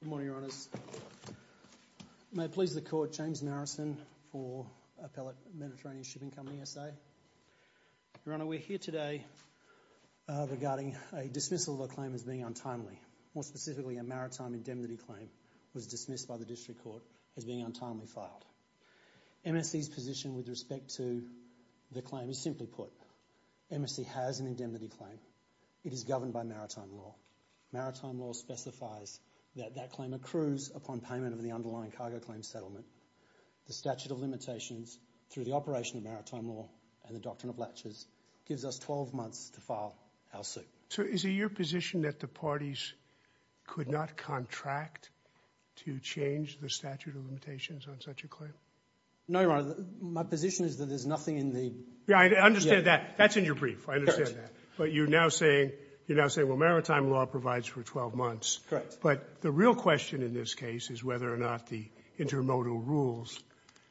Good morning, Your Honours. May it please the Court, James Marison for Appellate Mediterranean Shipping Company S.A. Your Honour, we're here today regarding a dismissal of a claim as being untimely. More specifically, a maritime indemnity claim was dismissed by the District Court as being untimely filed. MSC's position with respect to the claim is simply put, MSC has an indemnity claim. It specifies that that claim accrues upon payment of the underlying cargo claim settlement. The statute of limitations through the operation of maritime law and the doctrine of latches gives us 12 months to file our suit. So is it your position that the parties could not contract to change the statute of limitations on such a claim? No, Your Honour. My position is that there's nothing in the... Yeah, I understand that. That's in your brief. I understand that. But you're now saying, well, maritime law provides for 12 months. Correct. But the real question in this case is whether or not the intermodal rules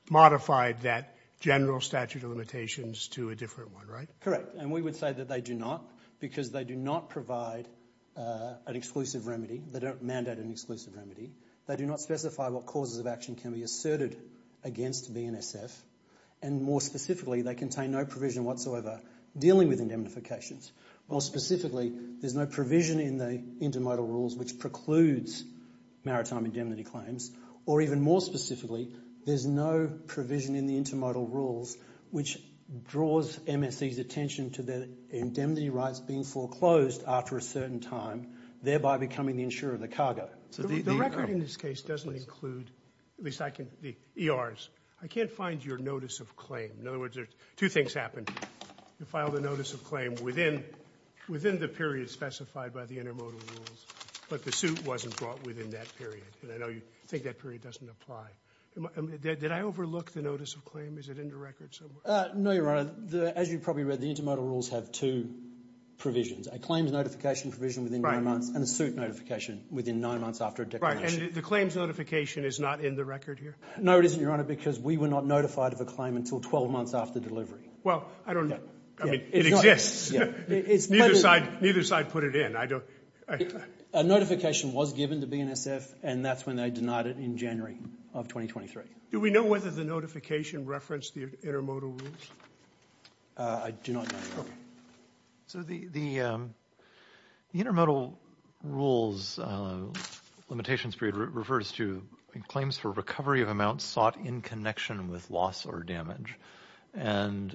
modified that general statute of limitations to a different one, right? Correct. And we would say that they do not because they do not provide an exclusive remedy. They don't mandate an exclusive remedy. They do not specify what causes of action can be asserted against BNSF. And more specifically, they contain no provision whatsoever dealing with indemnifications. Well, specifically, there's no provision in the intermodal rules which precludes maritime indemnity claims. Or even more specifically, there's no provision in the intermodal rules which draws MSC's attention to the indemnity rights being foreclosed after a certain time, thereby becoming the insurer of the cargo. So the record in this case doesn't include, at least I can... the ERs. I can't find your notice of claim. In other words, two things happened. You filed a notice of claim within the period specified by the intermodal rules, but the suit wasn't brought within that period. And I know you think that period doesn't apply. Did I overlook the notice of claim? Is it in the record somewhere? No, Your Honor. As you probably read, the intermodal rules have two provisions. A claims notification provision within nine months and a suit notification within nine months after a declaration. Right. And the claims notification is not in the record here? No, it isn't, Your Honor, because we were not notified of a claim until 12 months after delivery. Well, I don't... I mean, it exists. Neither side put it in. I don't... A notification was given to BNSF and that's when they denied it in January of 2023. Do we know whether the notification referenced the intermodal rules? I do not know, Your Honor. So the intermodal rules limitations period refers to claims for recovery of amounts sought in connection with loss or damage. And,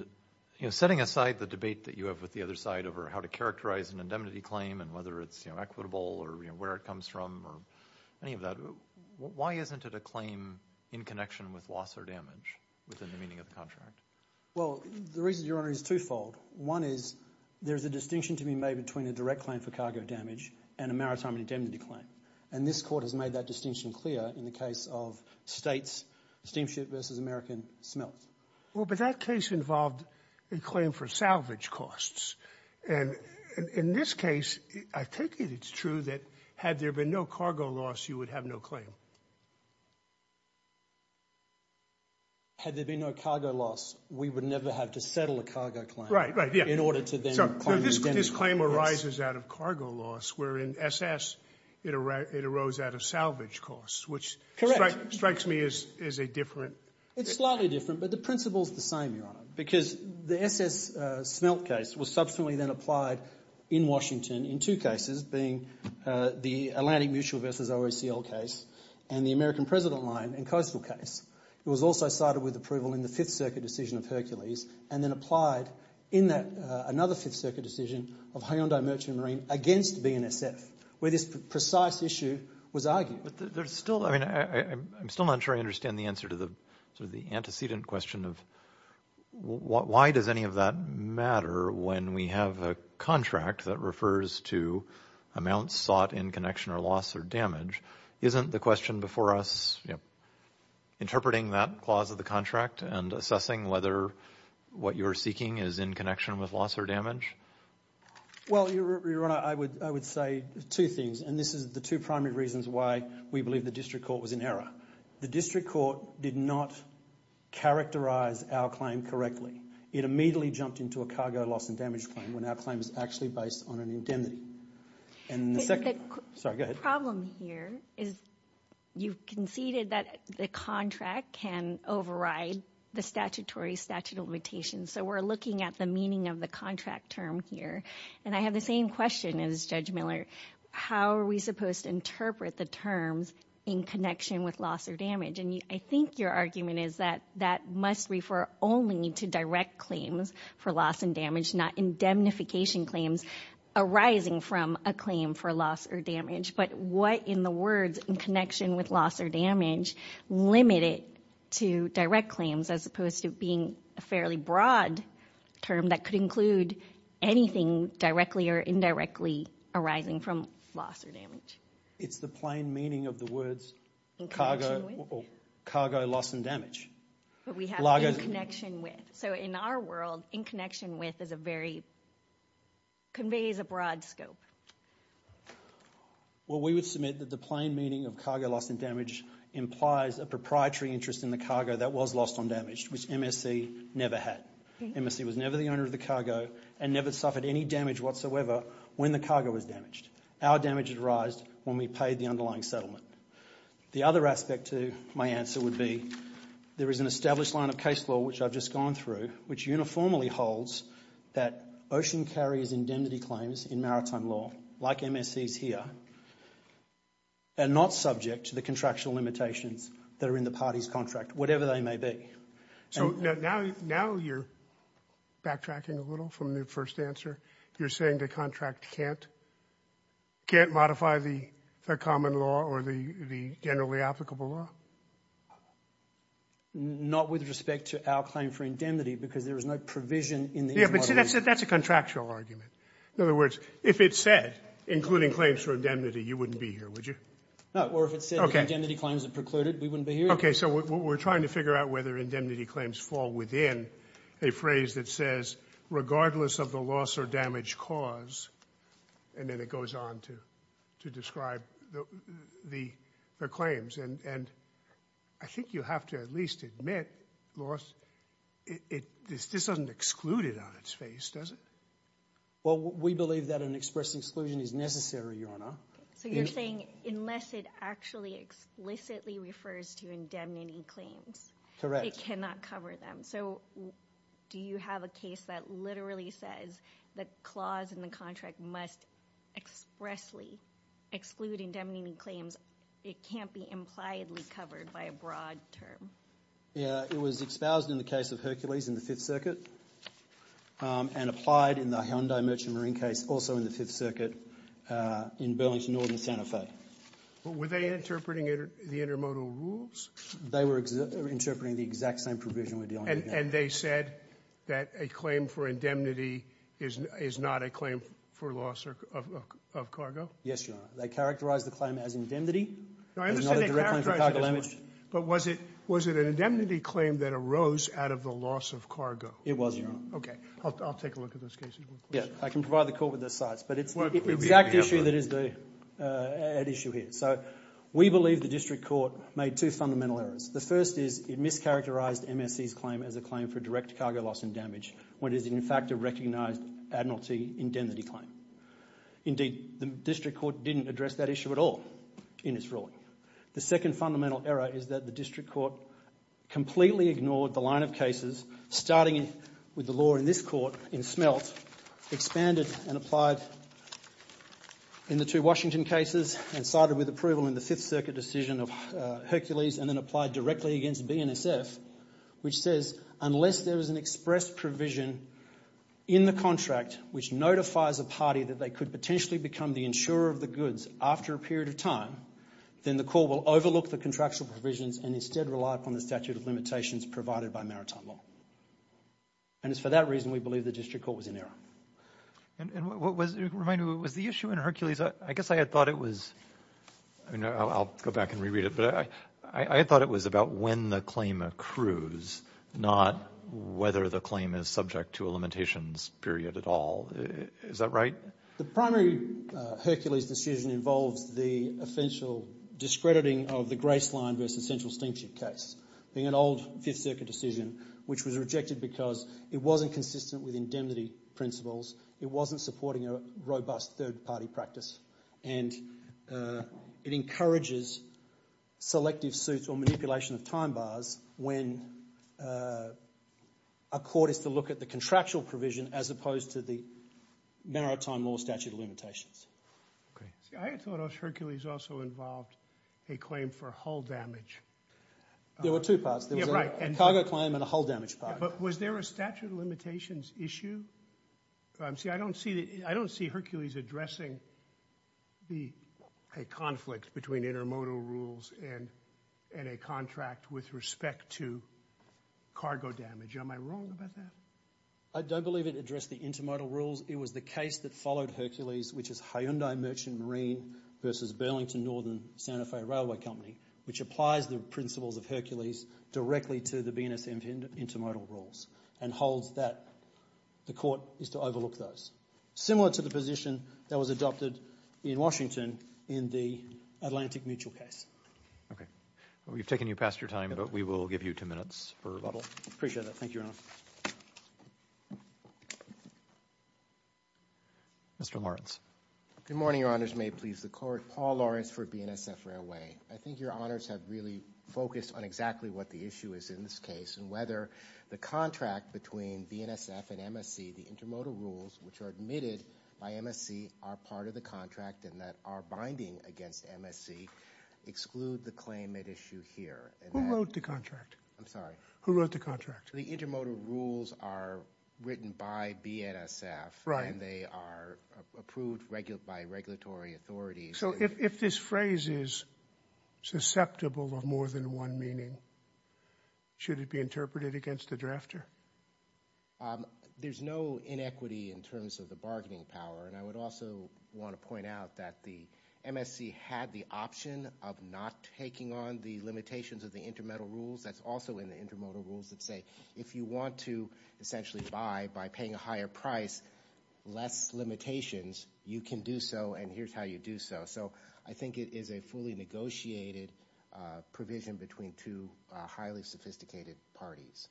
you know, setting aside the debate that you have with the other side over how to characterize an indemnity claim and whether it's, you know, equitable or, you know, where it comes from or any of that, why isn't it a claim in connection with loss or damage within the meaning of the contract? Well, the reason, Your Honor, is twofold. One is there's a distinction to be made between a direct claim for cargo damage and a maritime indemnity claim. And this Court has made that distinction clear in the case of states, steamship versus American smelts. Well, but that case involved a claim for salvage costs. And in this case, I take it it's true that had there been no cargo loss, you would have no claim. Had there been no cargo loss, we would never have to settle a cargo claim. Right, right, yeah. In order to then claim an indemnity claim. This claim arises out of cargo loss, where in SS, it arose out of salvage costs, which strikes me as a different... It's slightly different, but the principle is the same, Your Honor, because the SS smelt case was subsequently then applied in Washington in two cases, being the Atlantic Mutual versus OACL case and the American President line and coastal case. It was also cited with approval in the Fifth Circuit decision of Hercules and then applied in that another Fifth Circuit decision of Hyundai Merchant Marine against BNSF, where this precise issue was argued. But there's still, I mean, I'm still not sure I understand the answer to the antecedent question of why does any of that matter when we have a contract that refers to amounts sought in connection or loss or damage? Isn't the question before us interpreting that clause of the contract and assessing whether what you're seeking is in connection with loss or damage? Well, Your Honor, I would say two things and this is the two primary reasons why we believe the District Court was in error. The District Court did not characterize our claim correctly. It immediately jumped into a cargo loss and damage claim when our claim is actually based on an indemnity. And the second... Sorry, go ahead. The problem here is you conceded that the contract can override the statutory statute of limitations, so we're looking at the meaning of the contract term here. And I have the same question as Judge Miller. How are we supposed to interpret the terms in connection with loss or damage? And I think your argument is that that must refer only to direct claims for loss and damage, not indemnification claims arising from a claim for loss or damage. But what in the words in connection with loss or damage limit it to direct claims as opposed to being a fairly broad term that could include anything directly or indirectly arising from loss or damage? It's the plain meaning of the words cargo loss and damage. But we have in connection with. So in our world, in connection with is a very... conveys a broad scope. Well, we would submit that the plain meaning of cargo loss and damage implies a proprietary interest in the cargo that was lost on damage, which MSC never had. MSC was never the owner of the cargo and never suffered any damage whatsoever when the cargo was damaged. Our damage arised when we paid the underlying settlement. The other aspect to my answer would be there is an established line of case law, which I've just gone through, which uniformly holds that ocean carriers indemnity claims in maritime law, like MSC's here, are not subject to the contractual limitations that are in the party's contract, whatever they may be. So now you're backtracking a little from the first answer. You're saying the contract can't? Can't modify the common law or the generally applicable law? Not with respect to our claim for indemnity because there is no provision in the... Yeah, but see, that's a contractual argument. In other words, if it said, including claims for indemnity, you wouldn't be here, would you? No, or if it said indemnity claims are precluded, we wouldn't be here. Okay, so we're trying to figure out whether indemnity claims fall within a phrase that says, regardless of the loss or damage cause, and then it goes on to describe the claims. And I think you have to at least admit loss. This doesn't exclude it on its face, does it? Well, we believe that an expressed exclusion is necessary, Your Honor. So you're saying unless it actually explicitly refers to indemnity claims, it cannot cover them. So do you have a case that literally says the clause in the contract must expressly exclude indemnity claims? It can't be impliedly covered by a broad term. Yeah, it was espoused in the case of Hercules in the Fifth Circuit and applied in the Hyundai Merchant Marine case also in the Fifth Circuit in Burlington, Northern Santa Fe. Were they interpreting the intermodal rules? They were interpreting the exact same provision we're dealing with now. And they said that a claim for indemnity is not a claim for loss of cargo? Yes, Your Honor. They characterized the claim as indemnity. No, I understand they characterized it as indemnity. But was it an indemnity claim that arose out of the loss of cargo? It was, Your Honor. Okay, I'll take a look at those cases. Yeah, I can provide the sites. But it's the exact issue that is at issue here. So we believe the District Court made two fundamental errors. The first is it mischaracterized MSC's claim as a claim for direct cargo loss and damage, when it is in fact a recognized admiralty indemnity claim. Indeed, the District Court didn't address that issue at all in its ruling. The second fundamental error is that the District Court completely ignored the line of cases, starting with the law in this court in Smelt, expanded and applied in the two Washington cases, and sided with approval in the Fifth Circuit decision of Hercules, and then applied directly against BNSF, which says unless there is an express provision in the contract which notifies a party that they could potentially become the insurer of the goods after a period of time, then the court will overlook the contractual provisions and instead rely upon the statute of limitations provided by our time law. And it's for that reason we believe the District Court was in error. And what was, remind me, was the issue in Hercules, I guess I had thought it was, I know I'll go back and reread it, but I thought it was about when the claim accrues, not whether the claim is subject to a limitations period at all. Is that right? The primary Hercules decision involves the official discrediting of the Graceline versus Central Steamship case, being an old Fifth Circuit decision which was rejected because it wasn't consistent with indemnity principles, it wasn't supporting a robust third-party practice, and it encourages selective suits or manipulation of time bars when a court is to look at the contractual provision as opposed to the maritime law statute of limitations. I thought Hercules also involved a claim for hull damage. There were two parts, there was a cargo claim and a hull damage part. But was there a statute of limitations issue? See, I don't see that, I don't see Hercules addressing a conflict between intermodal rules and a contract with respect to cargo damage. Am I wrong about that? I don't believe it addressed the intermodal rules. It was the case that followed Hercules, which is Hyundai Merchant Marine versus Burlington Northern Santa Fe Railway Company, which applies the principles of Hercules directly to the BNSF intermodal rules and holds that the court is to overlook those. Similar to the position that was adopted in Washington in the Atlantic Mutual case. Okay, we've taken you past your time, but we will give you two minutes for rebuttal. Appreciate it, thank you, Your Honor. Mr. Lawrence. Good morning, Your Honors. May it please the Court. Paul Lawrence for BNSF Railway. I think Your Honors have really focused on exactly what the issue is in this case and whether the contract between BNSF and MSC, the intermodal rules, which are admitted by MSC, are part of the contract and that are binding against MSC, exclude the claim at issue here. Who wrote the contract? I'm sorry. Who wrote the contract? The intermodal rules are written by BNSF, and they are approved by regulatory authorities. So if this phrase is susceptible of more than one meaning, should it be interpreted against the drafter? There's no inequity in terms of the bargaining power, and I would also want to point out that the MSC had the option of not taking on the limitations of the intermodal rules. That's also in the intermodal rules that say if you want to essentially buy by paying a higher price less limitations, you can do so and here's how you do so. So I think it is a fully negotiated provision between two highly sophisticated parties.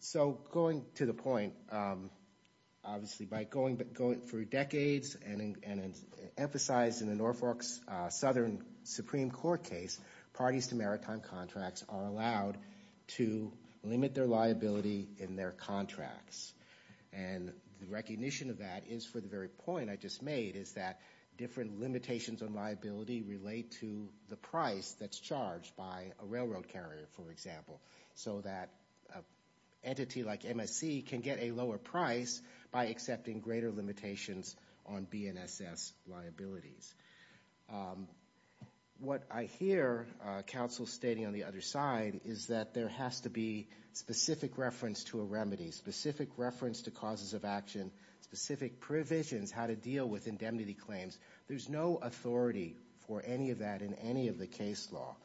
So going to the point, obviously by going through decades and emphasized in the Norfolk Southern Supreme Court case, parties to maritime contracts are allowed to limit their liability in their contracts, and the recognition of that is for the very point I just made is that different limitations on liability relate to the price that's charged by a railroad carrier, for example, so that an entity like MSC can get a lower price by accepting greater limitations on BNSS liabilities. What I hear counsel stating on the other side is that there has to be specific reference to a remedy, specific reference to causes of action, specific provisions how to deal with indemnity claims. There's no authority for any of that in any of the case law.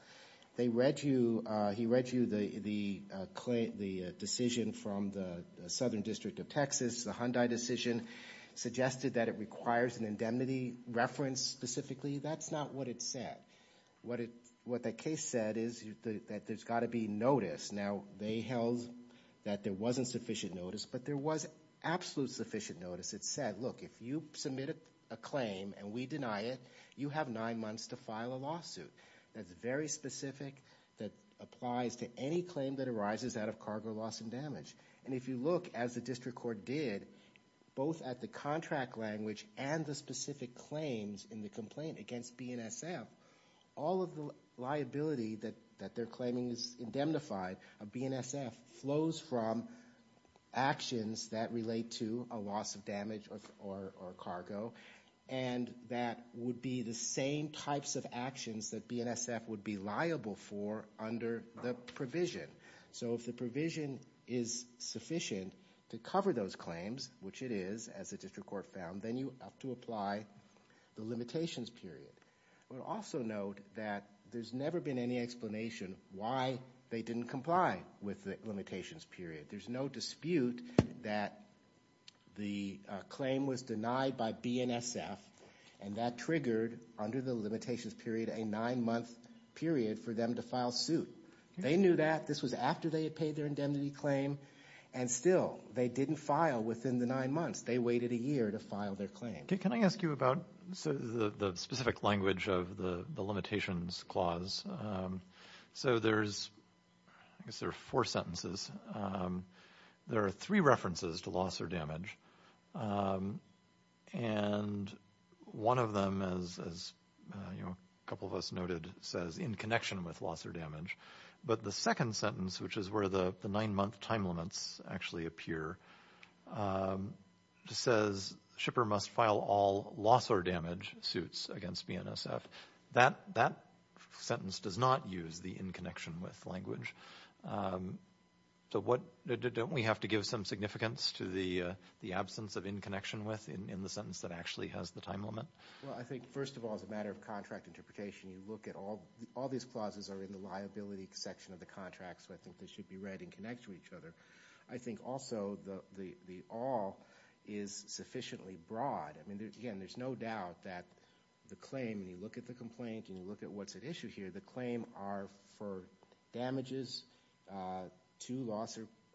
They read you, he read you the decision from the Southern District of Texas, the Hyundai decision, suggested that it requires an indemnity reference specifically. That's not what it said. What the case said is that there's got to be notice. Now they held that there wasn't sufficient notice, but there was absolute sufficient notice. It said, look, if you submit a claim and we deny it, you have nine months to file a lawsuit. That's very specific, that applies to any claim that arises out of cargo loss and damage. And if you look, as the district court did, both at the contract language and the specific claims in the complaint against BNSF, all of the liability that they're claiming is indemnified of BNSF flows from actions that relate to a loss of damage or cargo, and that would be the same types of actions that BNSF would be liable for under the provision. So if the provision is sufficient to cover those claims, which it is, as the district court found, then you have to apply the limitations period. We'll also note that there's never been any explanation why they didn't comply with the limitations period. There's no dispute that the claim was denied by BNSF and that triggered, under the limitations period, a nine-month period for them to file suit. They knew that, this was after they had paid their indemnity claim, and still, they didn't file within the nine months. They waited a year to file their claim. Okay, can I ask you about the specific language of the limitations clause? So there's, I guess there are four sentences. There are three references to loss or damage, and one of them, as a couple of us noted, says in connection with loss or damage. But the second sentence, which is where the nine-month time limits actually appear, says, shipper must file all loss or damage suits against BNSF. That sentence does not use the in connection with language. So don't we have to give some significance to the absence of in connection with in the sentence that actually has the time limit? Well, I think, first of all, as a matter of contract interpretation, you look at all these clauses are in the liability section of the contract, so I think they should be read in connection with each other. I think also the all is sufficiently broad. I mean, again, there's no doubt that the claim, when you look at the complaint, and you look at what's at issue here, the claim are for damages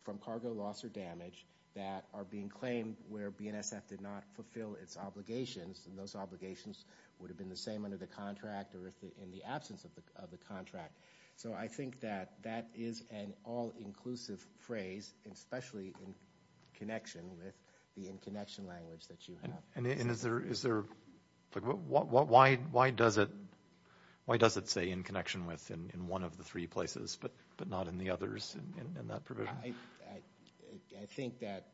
from cargo loss or damage that are being claimed where BNSF did not fulfill its obligations, and those obligations would have been the same under the contract, or in the absence of the contract. So I think that that is an all-inclusive phrase, especially in connection with the in connection language that you have. And is there, why does it say in connection with in one of the three places, but not in the others in that provision? I think that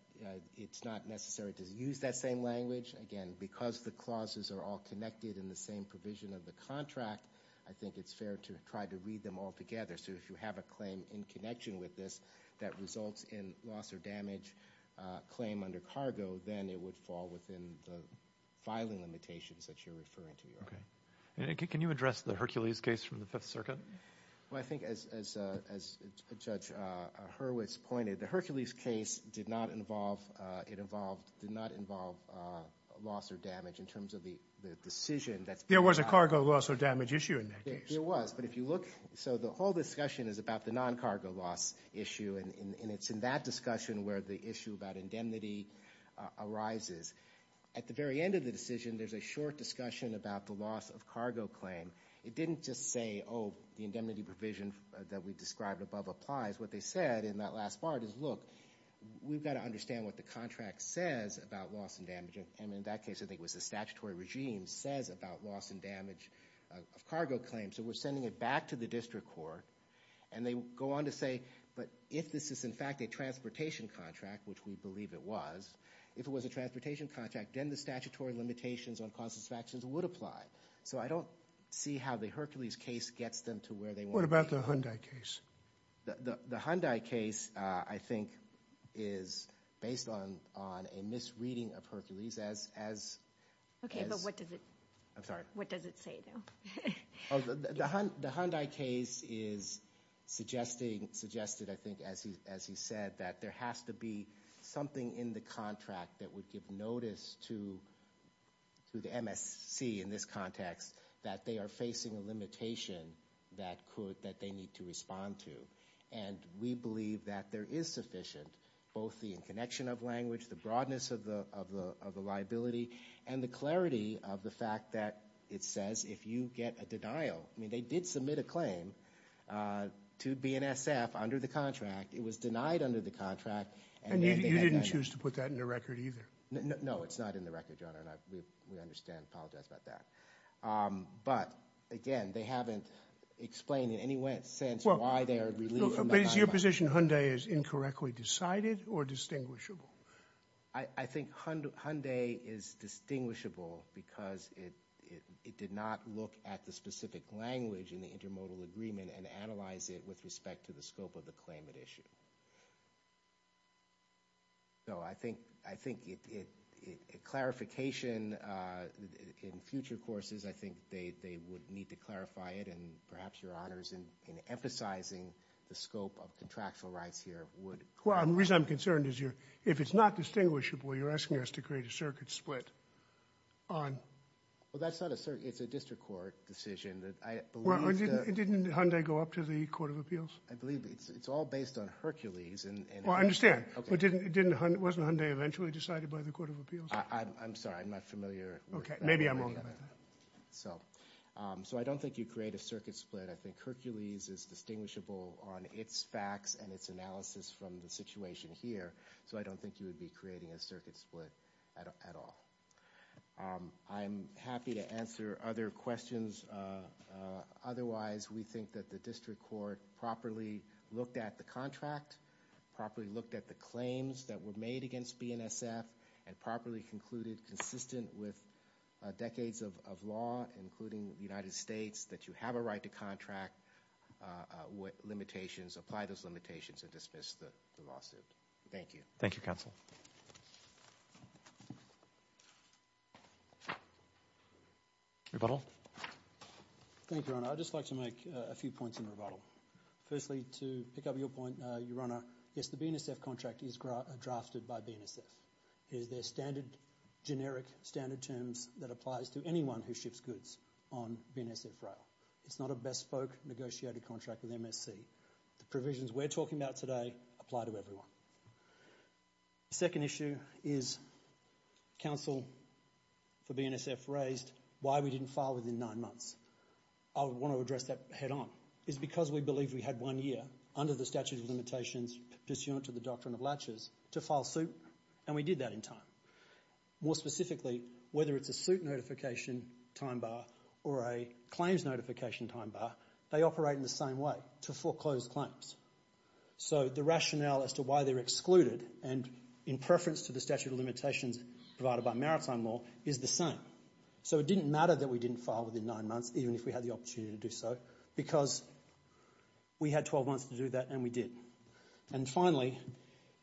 it's not necessary to use that same language. Again, because the clauses are all connected in the same provision of the contract, I think it's fair to try to read them all together. So if you have a claim in connection with this that results in loss or damage claim under cargo, then it would fall within the filing limitations that you're referring to. Okay. And can you address the Hercules case from the Fifth Circuit? Well, I think as Judge Hurwitz pointed, the Hercules case did not involve, it didn't involve, in terms of the decision that's been filed. There was a cargo loss or damage issue in that case. There was, but if you look, so the whole discussion is about the non-cargo loss issue, and it's in that discussion where the issue about indemnity arises. At the very end of the decision, there's a short discussion about the loss of cargo claim. It didn't just say, oh, the indemnity provision that we described above applies. What they said in that last part is, look, we've got to understand what the contract says about loss and damage. And in that case, I think it was a statutory regime says about loss and damage of cargo claim. So we're sending it back to the district court, and they go on to say, but if this is in fact a transportation contract, which we believe it was, if it was a transportation contract, then the statutory limitations on constitutional actions would apply. So I don't see how the Hercules case gets them to where they want to go. What about the Hyundai case? The Hyundai case, I think, is based on a misreading of Hercules as... Okay, but what does it... I'm sorry. What does it say, though? The Hyundai case is suggested, I think, as he said, that there has to be something in the contract that would give notice to the MSC in this context that they are facing a limitation that could... that they need to respond to. And we believe that there is sufficient, both the in-connection of language, the broadness of the liability, and the clarity of the fact that it says if you get a denial... I mean, they did submit a claim to BNSF under the contract. It was denied under the contract. And you didn't choose to put that in the record either? No, it's not in the record, Your Honor, and we understand and apologize about that. But, again, they haven't explained in any sense why they are relieving... But is your position Hyundai is incorrectly decided or distinguishable? I think Hyundai is distinguishable because it did not look at the specific language in the intermodal agreement and analyze it with respect to the scope of the claim at issue. No, I think it... clarification in future courses, I think they would need to clarify it. And perhaps, Your Honors, in emphasizing the scope of contractual rights here would... Well, the reason I'm concerned is if it's not distinguishable, you're asking us to create a circuit split on... Well, that's not a circuit. It's a district court decision that I believe... Well, didn't Hyundai go up to the Court of Appeals? I believe it's all based on Hercules and... Well, I understand. But didn't... wasn't Hyundai eventually decided by the Court of Appeals? I'm sorry. I'm not familiar... Okay. Maybe I'm wrong about that. So, I don't think you create a circuit split. I think Hercules is distinguishable on its facts and its analysis from the situation here. So, I don't think you would be creating a circuit split at all. I'm happy to answer other questions. Otherwise, we think that the district court properly looked at the contract, properly looked at the claims that were made against BNSF, and properly concluded, consistent with decades of law, including the United States, that you have a right to contract with limitations, apply those limitations, and dismiss the lawsuit. Thank you. Thank you, Counsel. Rebuttal. Thank you, Your Honour. I'd just like to make a few points in rebuttal. Firstly, to pick up your point, Your Honour, yes, the BNSF contract is drafted by BNSF. It is their standard, generic, standard terms that applies to anyone who ships goods on BNSF rail. It's not a bespoke negotiated contract with MSC. The provisions we're talking about today apply to everyone. The second issue is, Counsel, for BNSF raised, why we didn't file within nine months. I want to address that head-on. It's because we believe we had one year, under the statute of limitations, pursuant to the doctrine of latches, to file suit, and we did that in time. More specifically, whether it's a suit notification time bar or a claims notification time bar, they operate in the same way, to foreclose claims. So the rationale as to why they're excluded, and in preference to the statute of limitations provided by maritime law, is the same. So it didn't matter that we didn't file within nine months, even if we had the opportunity to do so, because we had 12 months to do that, and we did. And finally,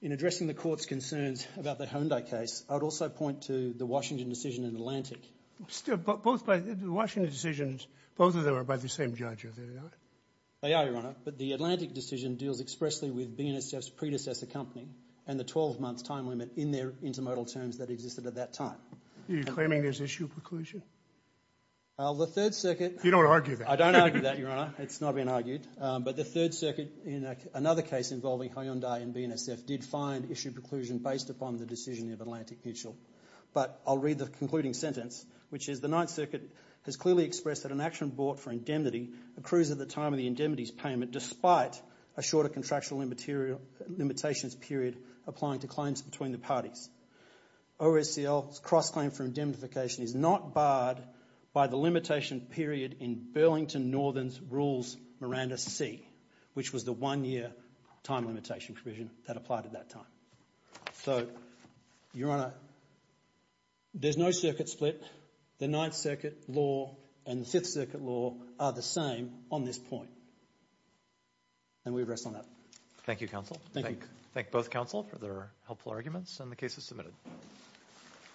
in addressing the Court's concerns about the Hyundai case, I would also point to the Washington decision in Atlantic. Both of the Washington decisions, both of them are by the same judge, are they not? They are, Your Honour, but the Atlantic decision deals expressly with BNSF's predecessor company, and the 12-month time limit in their intermodal terms that existed at that time. Are you claiming there's issue preclusion? The Third Circuit... You don't argue that. I don't argue that, Your Honour. It's not been argued. But the Third Circuit, in another case involving Hyundai and BNSF, did find issue preclusion based upon the decision of Atlantic Mutual. But I'll read the concluding sentence, which is, The Ninth Circuit has clearly expressed that an action brought for indemnity accrues at the time of the indemnity's payment despite a shorter contractual limitations period applying to claims between the parties. OSCL's cross-claim for indemnification is not barred by the limitation period in Burlington Northern's Rules Miranda C, which was the one-year time limitation provision that applied at that time. So, Your Honour, there's no circuit split. The Ninth Circuit law and the Fifth Circuit law are the same on this point. And we rest on that. Thank you, Counsel. Thank you. Thank both counsel for their helpful arguments and the cases submitted.